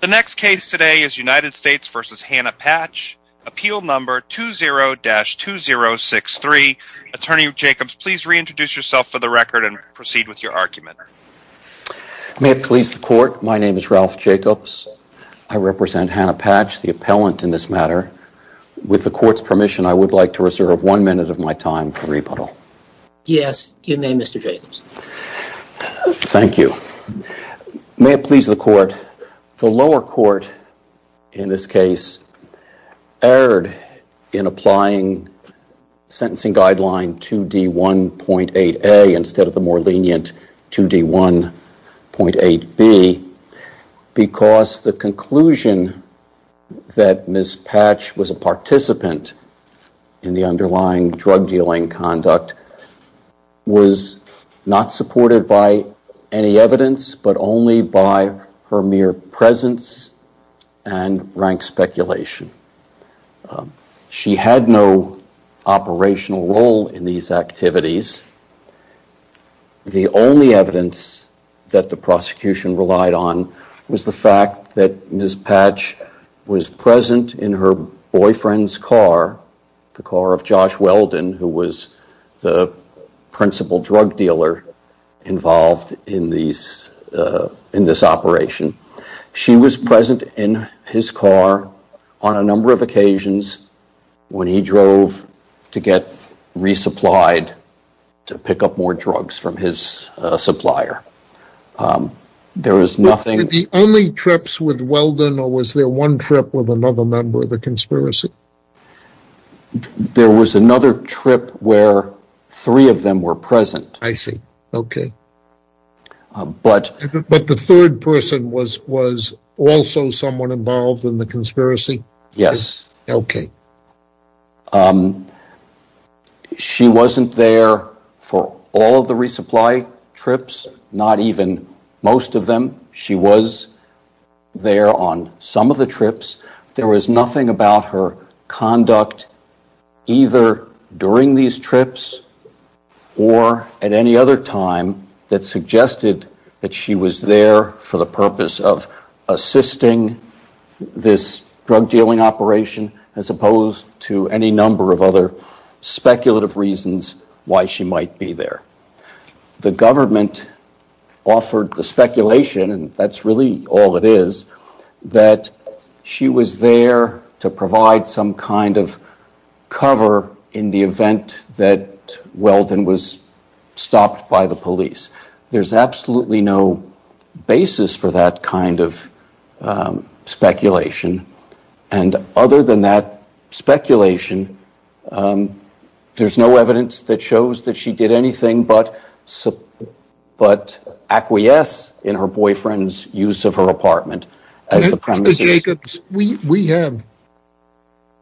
The next case today is United States v. Hannah Patch. Appeal number 20-2063. Attorney Jacobs, please reintroduce yourself for the record and proceed with your argument. May it please the court, my name is Ralph Jacobs. I represent Hannah Patch, the appellant in this matter. With the court's permission, I would like to reserve one minute of my time for rebuttal. Yes, you may, Mr. Jacobs. Thank you. May it please the court, the lower court in this case erred in applying sentencing guideline 2D1.8A instead of the more lenient 2D1.8B because the conclusion that Ms. Patch was a participant in the underlying drug dealing conduct was not supported by any evidence but only by her mere presence and rank speculation. She had no operational role in these activities. The only evidence that the prosecution relied on was the fact that Ms. Patch was present in her boyfriend's car, the car of Josh Weldon, who was the principal drug dealer involved in this operation. She was present in his car on a number of occasions when he drove to get resupplied to pick up more drugs from his supplier. Were there only trips with Weldon or was there one trip with another member of the conspiracy? There was another trip where three of them were present. I see. Okay. But the third person was also someone involved in the conspiracy? Yes. Okay. She wasn't there for all of the resupply trips, not even most of them. She was there on some of the trips. There was nothing about her conduct either during these trips or at any other time that suggested that she was there for the purpose of assisting this drug dealing operation as opposed to any number of other speculative reasons why she might be there. The government offered the speculation, and that's really all it is, that she was there to provide some kind of cover in the event that Weldon was stopped by the police. There's absolutely no basis for that kind of speculation, and other than that speculation, there's no evidence that shows that she did anything but acquiesce in her boyfriend's use of her apartment. Mr. Jacobs, we have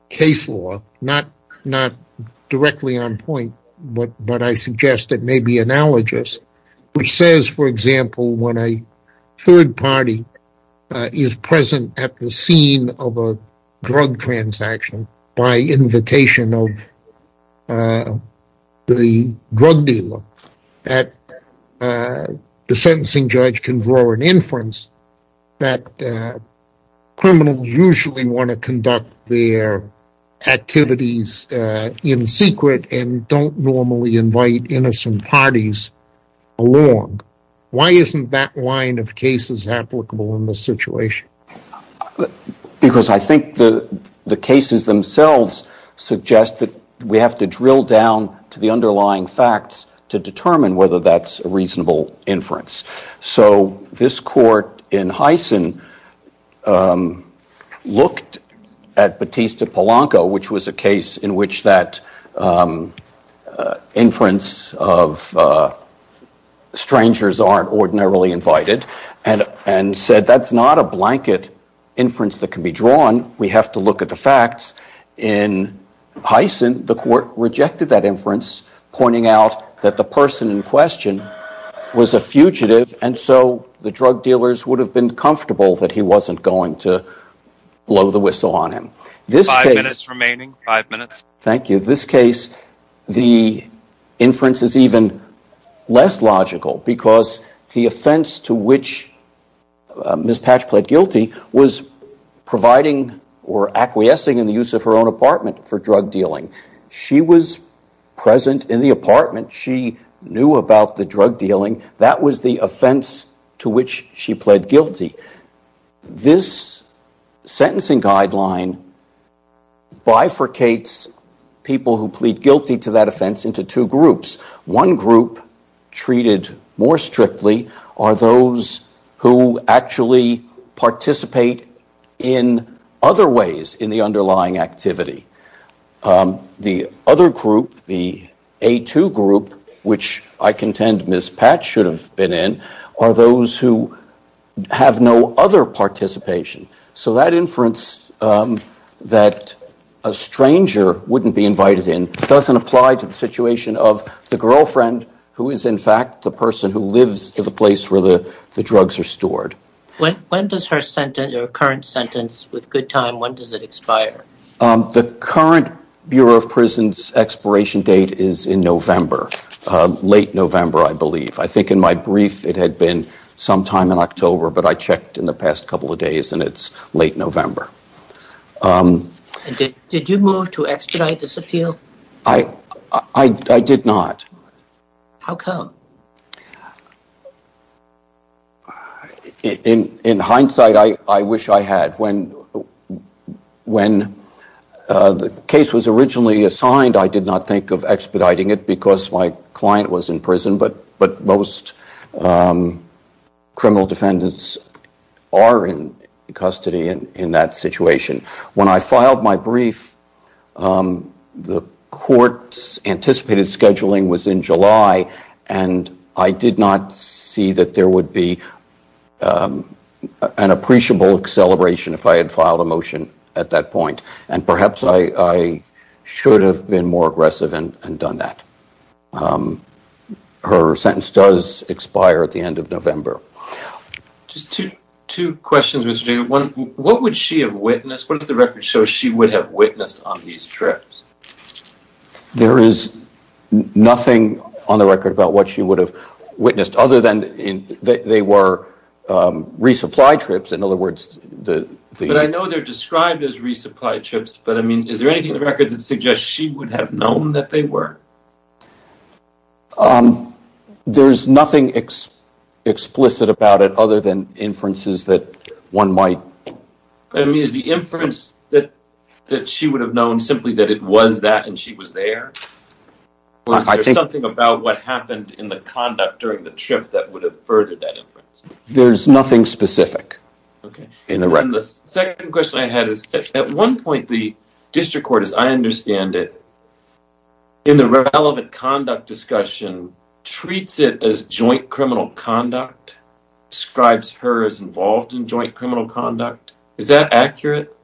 case law, not directly on point, but I suggest it may be analogous, which says, for example, when a third party is present at the scene of a drug transaction by invitation of the drug dealer, that the sentencing judge can draw an inference that criminals usually want to conduct their activities in secret and don't normally invite innocent parties along. Why isn't that line of cases applicable in this situation? Because I think the cases themselves suggest that we have to drill down to the underlying facts to determine whether that's a reasonable inference. So this court in Heysen looked at Batista Polanco, which was a case in which that inference of and said that's not a blanket inference that can be drawn, we have to look at the facts. In Heysen, the court rejected that inference, pointing out that the person in question was a fugitive, and so the drug dealers would have been comfortable that he wasn't going to blow the whistle on him. Five minutes remaining. Five minutes. because the offense to which Ms. Patch pled guilty was providing or acquiescing in the use of her own apartment for drug dealing. She was present in the apartment. She knew about the drug dealing. That was the offense to which she pled guilty. This sentencing guideline bifurcates people who plead guilty to that offense into two groups. One group, treated more strictly, are those who actually participate in other ways in the underlying activity. The other group, the A2 group, which I contend Ms. Patch should have been in, are those who have no other participation. So that inference that a stranger wouldn't be invited in doesn't apply to the situation of the girlfriend, who is in fact the person who lives at the place where the drugs are stored. When does her current sentence, with good time, when does it expire? The current Bureau of Prisons expiration date is in November. Late November, I believe. I think in my brief it had been sometime in October, but I checked in the past couple of days and it's late November. Did you move to expedite this appeal? I did not. How come? In hindsight, I wish I had. When the case was originally assigned, I did not think of expediting it because my client was in prison, but most criminal defendants are in custody in that situation. When I filed my brief, the court's anticipated scheduling was in July, and I did not see that there would be an appreciable acceleration if I had filed a motion at that point. And perhaps I should have been more aggressive and done that. Her sentence does expire at the end of November. Just two questions, Mr. Jacob. One, what would she have witnessed? What does the record show she would have witnessed on these trips? There is nothing on the record about what she would have witnessed other than they were resupply trips. But I know they're described as resupply trips, but is there anything in the record that suggests she would have known that they were? There's nothing explicit about it other than inferences that one might… I mean, is the inference that she would have known simply that it was that and she was there? Or is there something about what happened in the conduct during the trip that would have furthered that inference? And the second question I had is, at one point, the district court, as I understand it, in the relevant conduct discussion treats it as joint criminal conduct, describes her as involved in joint criminal conduct. Is that accurate,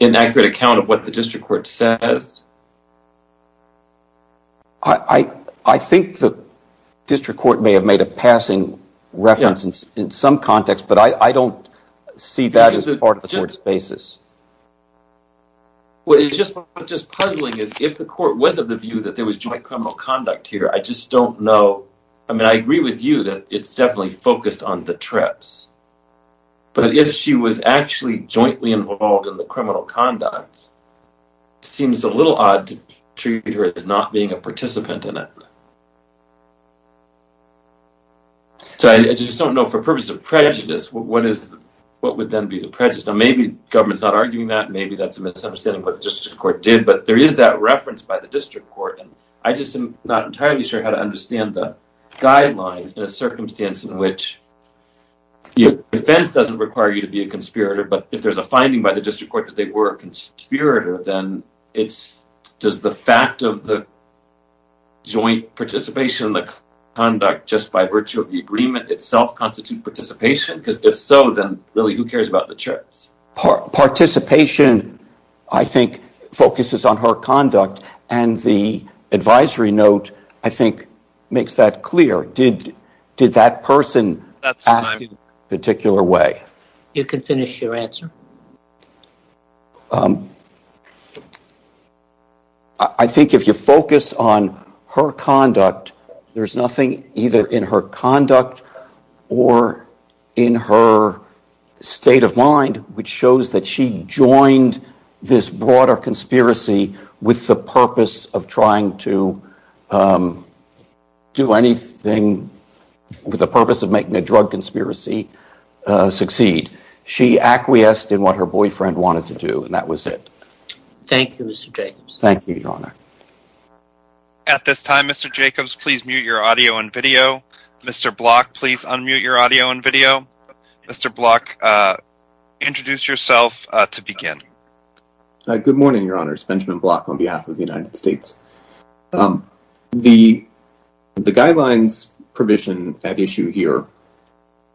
an accurate account of what the district court says? I think the district court may have made a passing reference in some context, but I don't see that as part of the court's basis. What is just puzzling is if the court was of the view that there was joint criminal conduct here, I just don't know. I mean, I agree with you that it's definitely focused on the trips. But if she was actually jointly involved in the criminal conduct, it seems a little odd to treat her as not being a participant in it. So I just don't know, for purposes of prejudice, what would then be the prejudice? Now, maybe the government's not arguing that. Maybe that's a misunderstanding of what the district court did. But there is that reference by the district court. And I just am not entirely sure how to understand the guideline in a circumstance in which the defense doesn't require you to be a conspirator, but if there's a finding by the district court that they were a conspirator, then does the fact of the joint participation in the conduct, just by virtue of the agreement itself, constitute participation? Because if so, then really who cares about the trips? Participation, I think, focuses on her conduct. And the advisory note, I think, makes that clear. Did that person act in a particular way? You can finish your answer. I think if you focus on her conduct, there's nothing either in her conduct or in her state of mind which shows that she joined this broader conspiracy with the purpose of trying to do anything with the purpose of making a drug conspiracy succeed. She acquiesced in what her boyfriend wanted to do, and that was it. Thank you, Mr. Jacobs. Thank you, Your Honor. At this time, Mr. Jacobs, please mute your audio and video. Mr. Block, please unmute your audio and video. Mr. Block, introduce yourself to begin. Good morning, Your Honors. Benjamin Block on behalf of the United States. The guidelines provision at issue here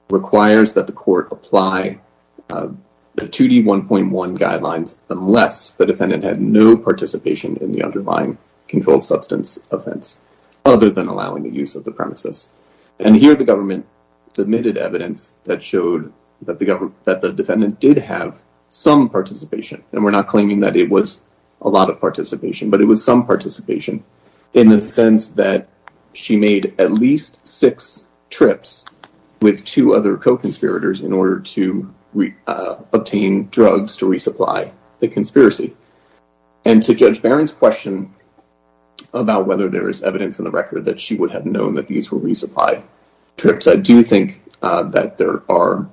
requires that the court apply the 2D1.1 guidelines unless the defendant had no participation in the underlying controlled substance offense other than allowing the use of the premises. And here the government submitted evidence that showed that the defendant did have some participation. And we're not claiming that it was a lot of participation, but it was some participation in the sense that she made at least six trips with two other co-conspirators in order to obtain drugs to resupply the conspiracy. And to Judge Barron's question about whether there is evidence in the record that she would have known that these were resupply trips, I do think that there are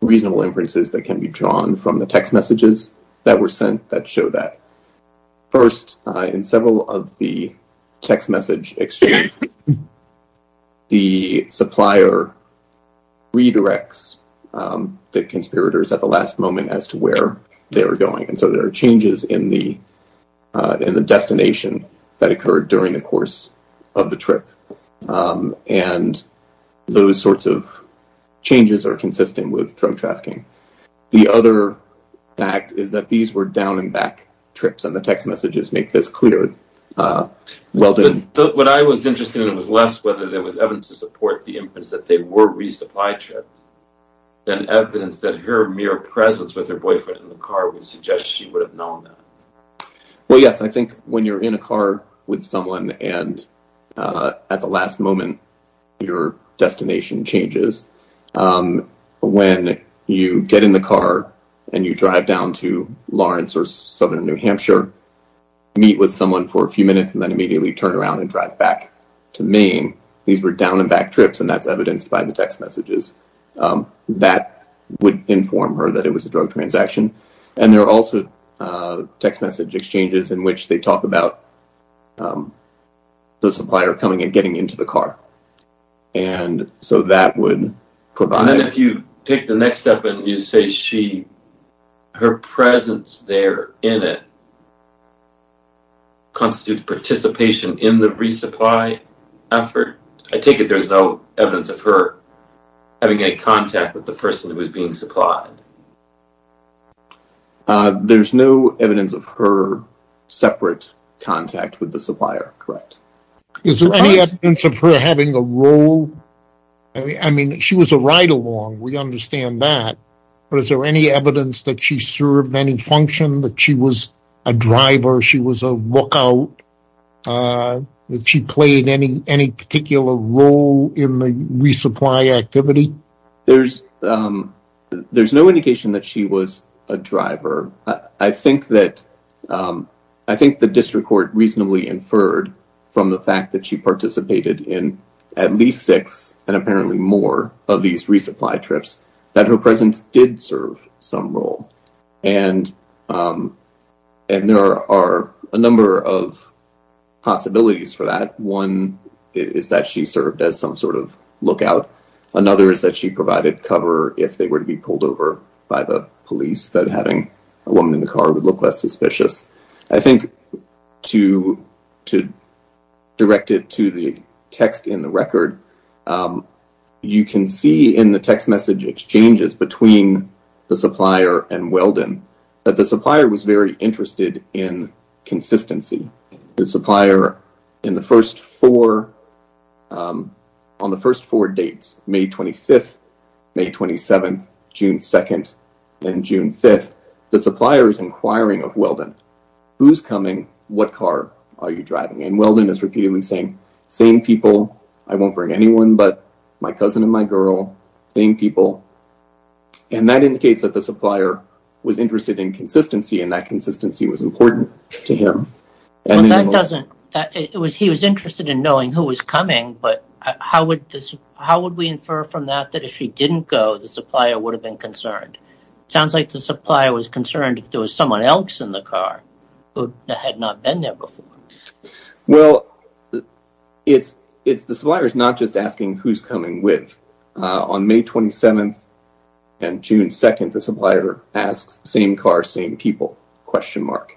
reasonable inferences that can be drawn from the text messages that were sent that show that. First, in several of the text message exchanges, the supplier redirects the conspirators at the last moment as to where they were going. And so there are changes in the destination that occurred during the course of the trip. And those sorts of changes are consistent with drug trafficking. The other fact is that these were down-and-back trips, and the text messages make this clear. What I was interested in was less whether there was evidence to support the inference that they were resupply trips than evidence that her mere presence with her boyfriend in the car would suggest she would have known that. Well, yes, I think when you're in a car with someone and at the last moment your destination changes, when you get in the car and you drive down to Lawrence or southern New Hampshire, meet with someone for a few minutes and then immediately turn around and drive back to Maine, these were down-and-back trips, and that's evidenced by the text messages that would inform her that it was a drug transaction. And there are also text message exchanges in which they talk about the supplier coming and getting into the car. And so that would provide... And if you take the next step and you say her presence there in it constitutes participation in the resupply effort, I take it there's no evidence of her having any contact with the person who was being supplied. There's no evidence of her separate contact with the supplier, correct? Is there any evidence of her having a role? I mean, she was a ride-along, we understand that, but is there any evidence that she served any function, that she was a driver, she was a lookout, that she played any particular role in the resupply activity? There's no indication that she was a driver. I think the district court reasonably inferred from the fact that she participated in at least six and apparently more of these resupply trips that her presence did serve some role. And there are a number of possibilities for that. One is that she served as some sort of lookout. Another is that she provided cover if they were to be pulled over by the police, that having a woman in the car would look less suspicious. I think to direct it to the text in the record, you can see in the text message exchanges between the supplier and Weldon that the supplier was very interested in consistency. The supplier, on the first four dates, May 25th, May 27th, June 2nd, and June 5th, the supplier is inquiring of Weldon, who's coming, what car are you driving? And Weldon is repeatedly saying, same people, I won't bring anyone but my cousin and my girl, same people. And that indicates that the supplier was interested in consistency and that consistency was important to him. He was interested in knowing who was coming, but how would we infer from that that if she didn't go, the supplier would have been concerned? It sounds like the supplier was concerned if there was someone else in the car who had not been there before. Well, the supplier is not just asking who's coming with. On May 27th and June 2nd, the supplier asks, same car, same people, question mark.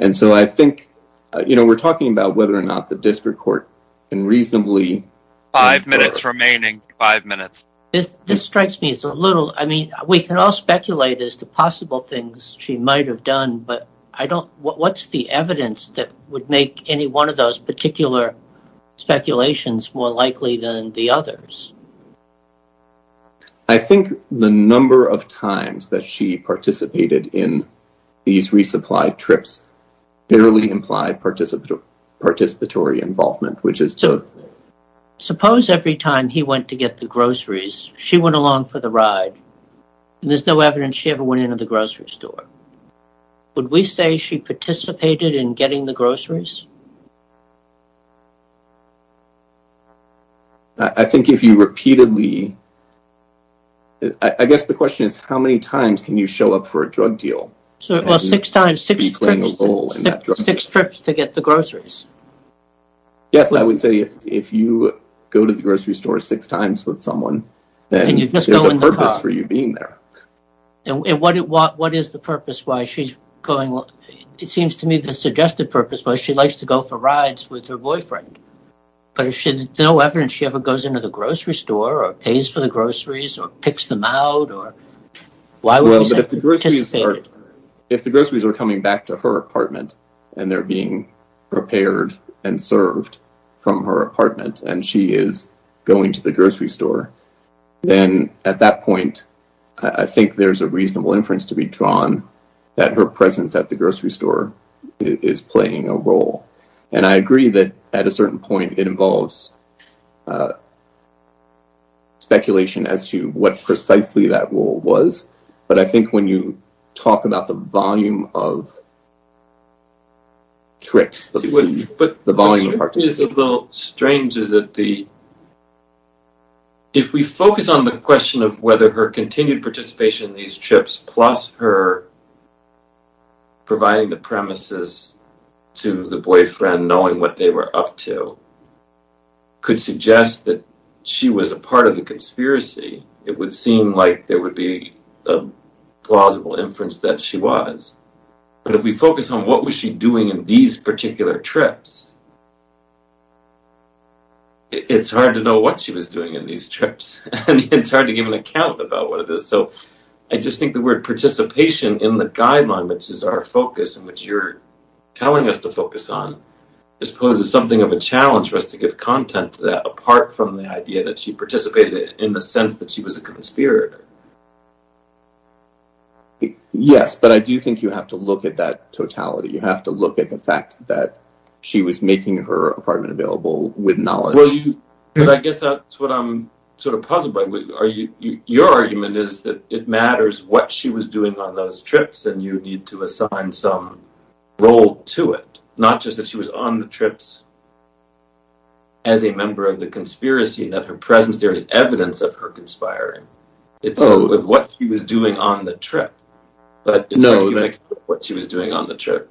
And so I think, you know, we're talking about whether or not the district court can reasonably... Five minutes remaining, five minutes. This strikes me as a little, I mean, we can all speculate as to possible things she might have done, but what's the evidence that would make any one of those particular speculations more likely than the others? I think the number of times that she participated in these resupply trips fairly implied participatory involvement, which is to... Suppose every time he went to get the groceries, she went along for the ride, and there's no evidence she ever went into the grocery store. Would we say she participated in getting the groceries? I think if you repeatedly... I guess the question is, how many times can you show up for a drug deal? Well, six times, six trips to get the groceries. Yes, I would say if you go to the grocery store six times with someone, then there's a purpose for you being there. And what is the purpose why she's going... It seems to me the suggested purpose why she likes to go for rides with her boyfriend, but there's no evidence she ever goes into the grocery store or pays for the groceries or picks them out or... Well, but if the groceries are coming back to her apartment and they're being prepared and served from her apartment and she is going to the grocery store, then at that point I think there's a reasonable inference to be drawn that her presence at the grocery store is playing a role. And I agree that at a certain point it involves speculation as to what precisely that role was, but I think when you talk about the volume of trips, the volume of participation... What is a little strange is that the... If we focus on the question of whether her continued participation in these trips plus her providing the premises to the boyfriend knowing what they were up to could suggest that she was a part of the conspiracy, it would seem like there would be a plausible inference that she was. But if we focus on what was she doing in these particular trips, it's hard to know what she was doing in these trips, and it's hard to give an account about what it is. So I just think the word participation in the guideline, which is our focus and which you're telling us to focus on, just poses something of a challenge for us to give content to that apart from the idea that she participated in the sense that she was a conspirator. Yes, but I do think you have to look at that totality. You have to look at the fact that she was making her apartment available with knowledge. Well, I guess that's what I'm sort of puzzled by. Your argument is that it matters what she was doing on those trips and you need to assign some role to it, not just that she was on the trips as a member of the conspiracy and that her presence there is evidence of her conspiring. It's not with what she was doing on the trip, but it's where you make what she was doing on the trip.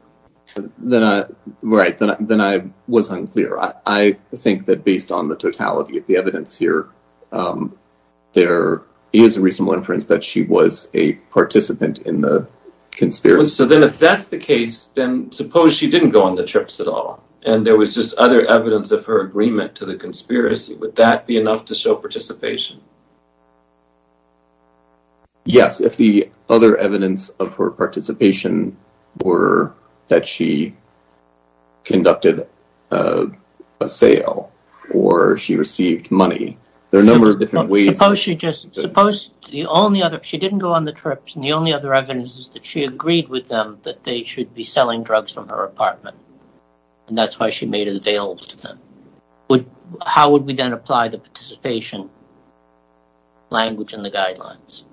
Right, then I was unclear. I think that based on the totality of the evidence here, there is a reasonable inference that she was a participant in the conspiracy. So then if that's the case, then suppose she didn't go on the trips at all and there was just other evidence of her agreement to the conspiracy. Would that be enough to show participation? Yes, if the other evidence of her participation were that she conducted a sale or she received money. There are a number of different ways. Suppose she didn't go on the trips and the only other evidence is that she agreed with them that they should be selling drugs from her apartment and that's why she made it available to them. How would we then apply the participation language in the guidelines?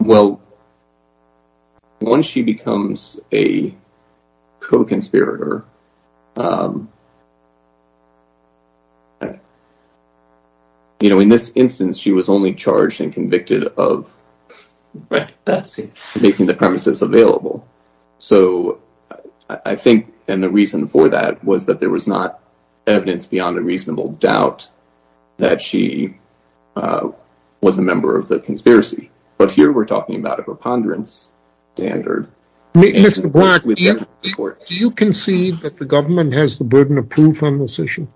Well, once she becomes a co-conspirator, in this instance she was only charged and convicted of making the premises available. So I think the reason for that was that there was not evidence beyond a reasonable doubt that she was a member of the conspiracy. But here we're talking about a preponderance standard. Mr. Black, do you concede that the government has the burden of proof on this issue?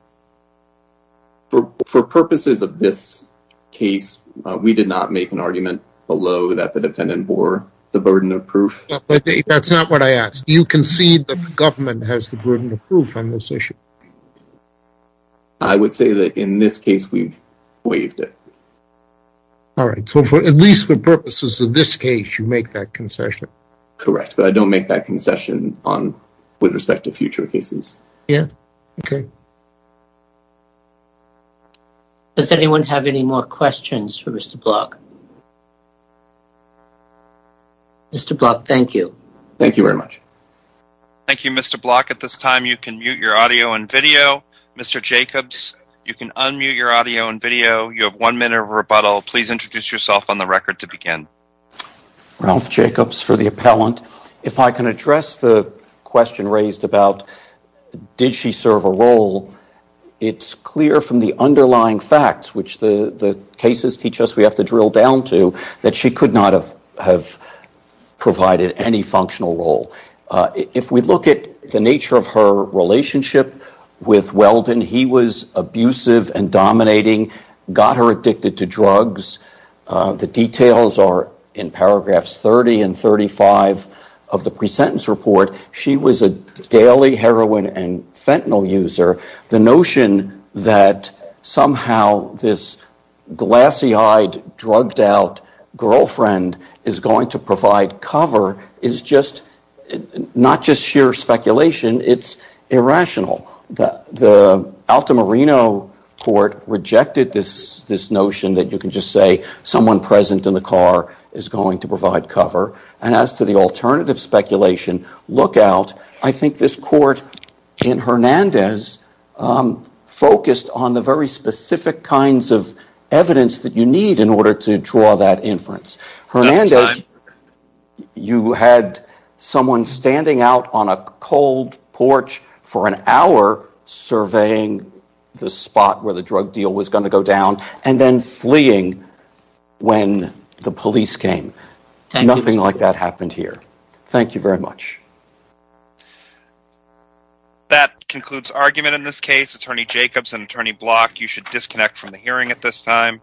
For purposes of this case, we did not make an argument below that the defendant bore the burden of proof. That's not what I asked. Do you concede that the government has the burden of proof on this issue? I would say that in this case we've waived it. Alright, so at least for purposes of this case you make that concession. Correct, but I don't make that concession with respect to future cases. Yeah, okay. Does anyone have any more questions for Mr. Black? Mr. Black, thank you. Thank you very much. Thank you, Mr. Black. At this time you can mute your audio and video. Mr. Jacobs, you can unmute your audio and video. You have one minute of rebuttal. Please introduce yourself on the record to begin. Ralph Jacobs for the appellant. If I can address the question raised about did she serve a role, it's clear from the underlying facts, which the cases teach us we have to drill down to, that she could not have provided any functional role. If we look at the nature of her relationship with Weldon, the details are in paragraphs 30 and 35 of the pre-sentence report. She was a daily heroin and fentanyl user. The notion that somehow this glassy-eyed, drugged-out girlfriend is going to provide cover is just, not just sheer speculation, it's irrational. The Altamirano court rejected this notion that you can just say someone present in the car is going to provide cover. And as to the alternative speculation, look out. I think this court in Hernandez focused on the very specific kinds of evidence that you need in order to draw that inference. Hernandez, you had someone standing out on a cold porch for an hour, surveying the spot where the drug deal was going to go down, and then fleeing when the police came. Nothing like that happened here. Thank you very much. That concludes argument in this case. Attorney Jacobs and Attorney Block, you should disconnect from the hearing at this time.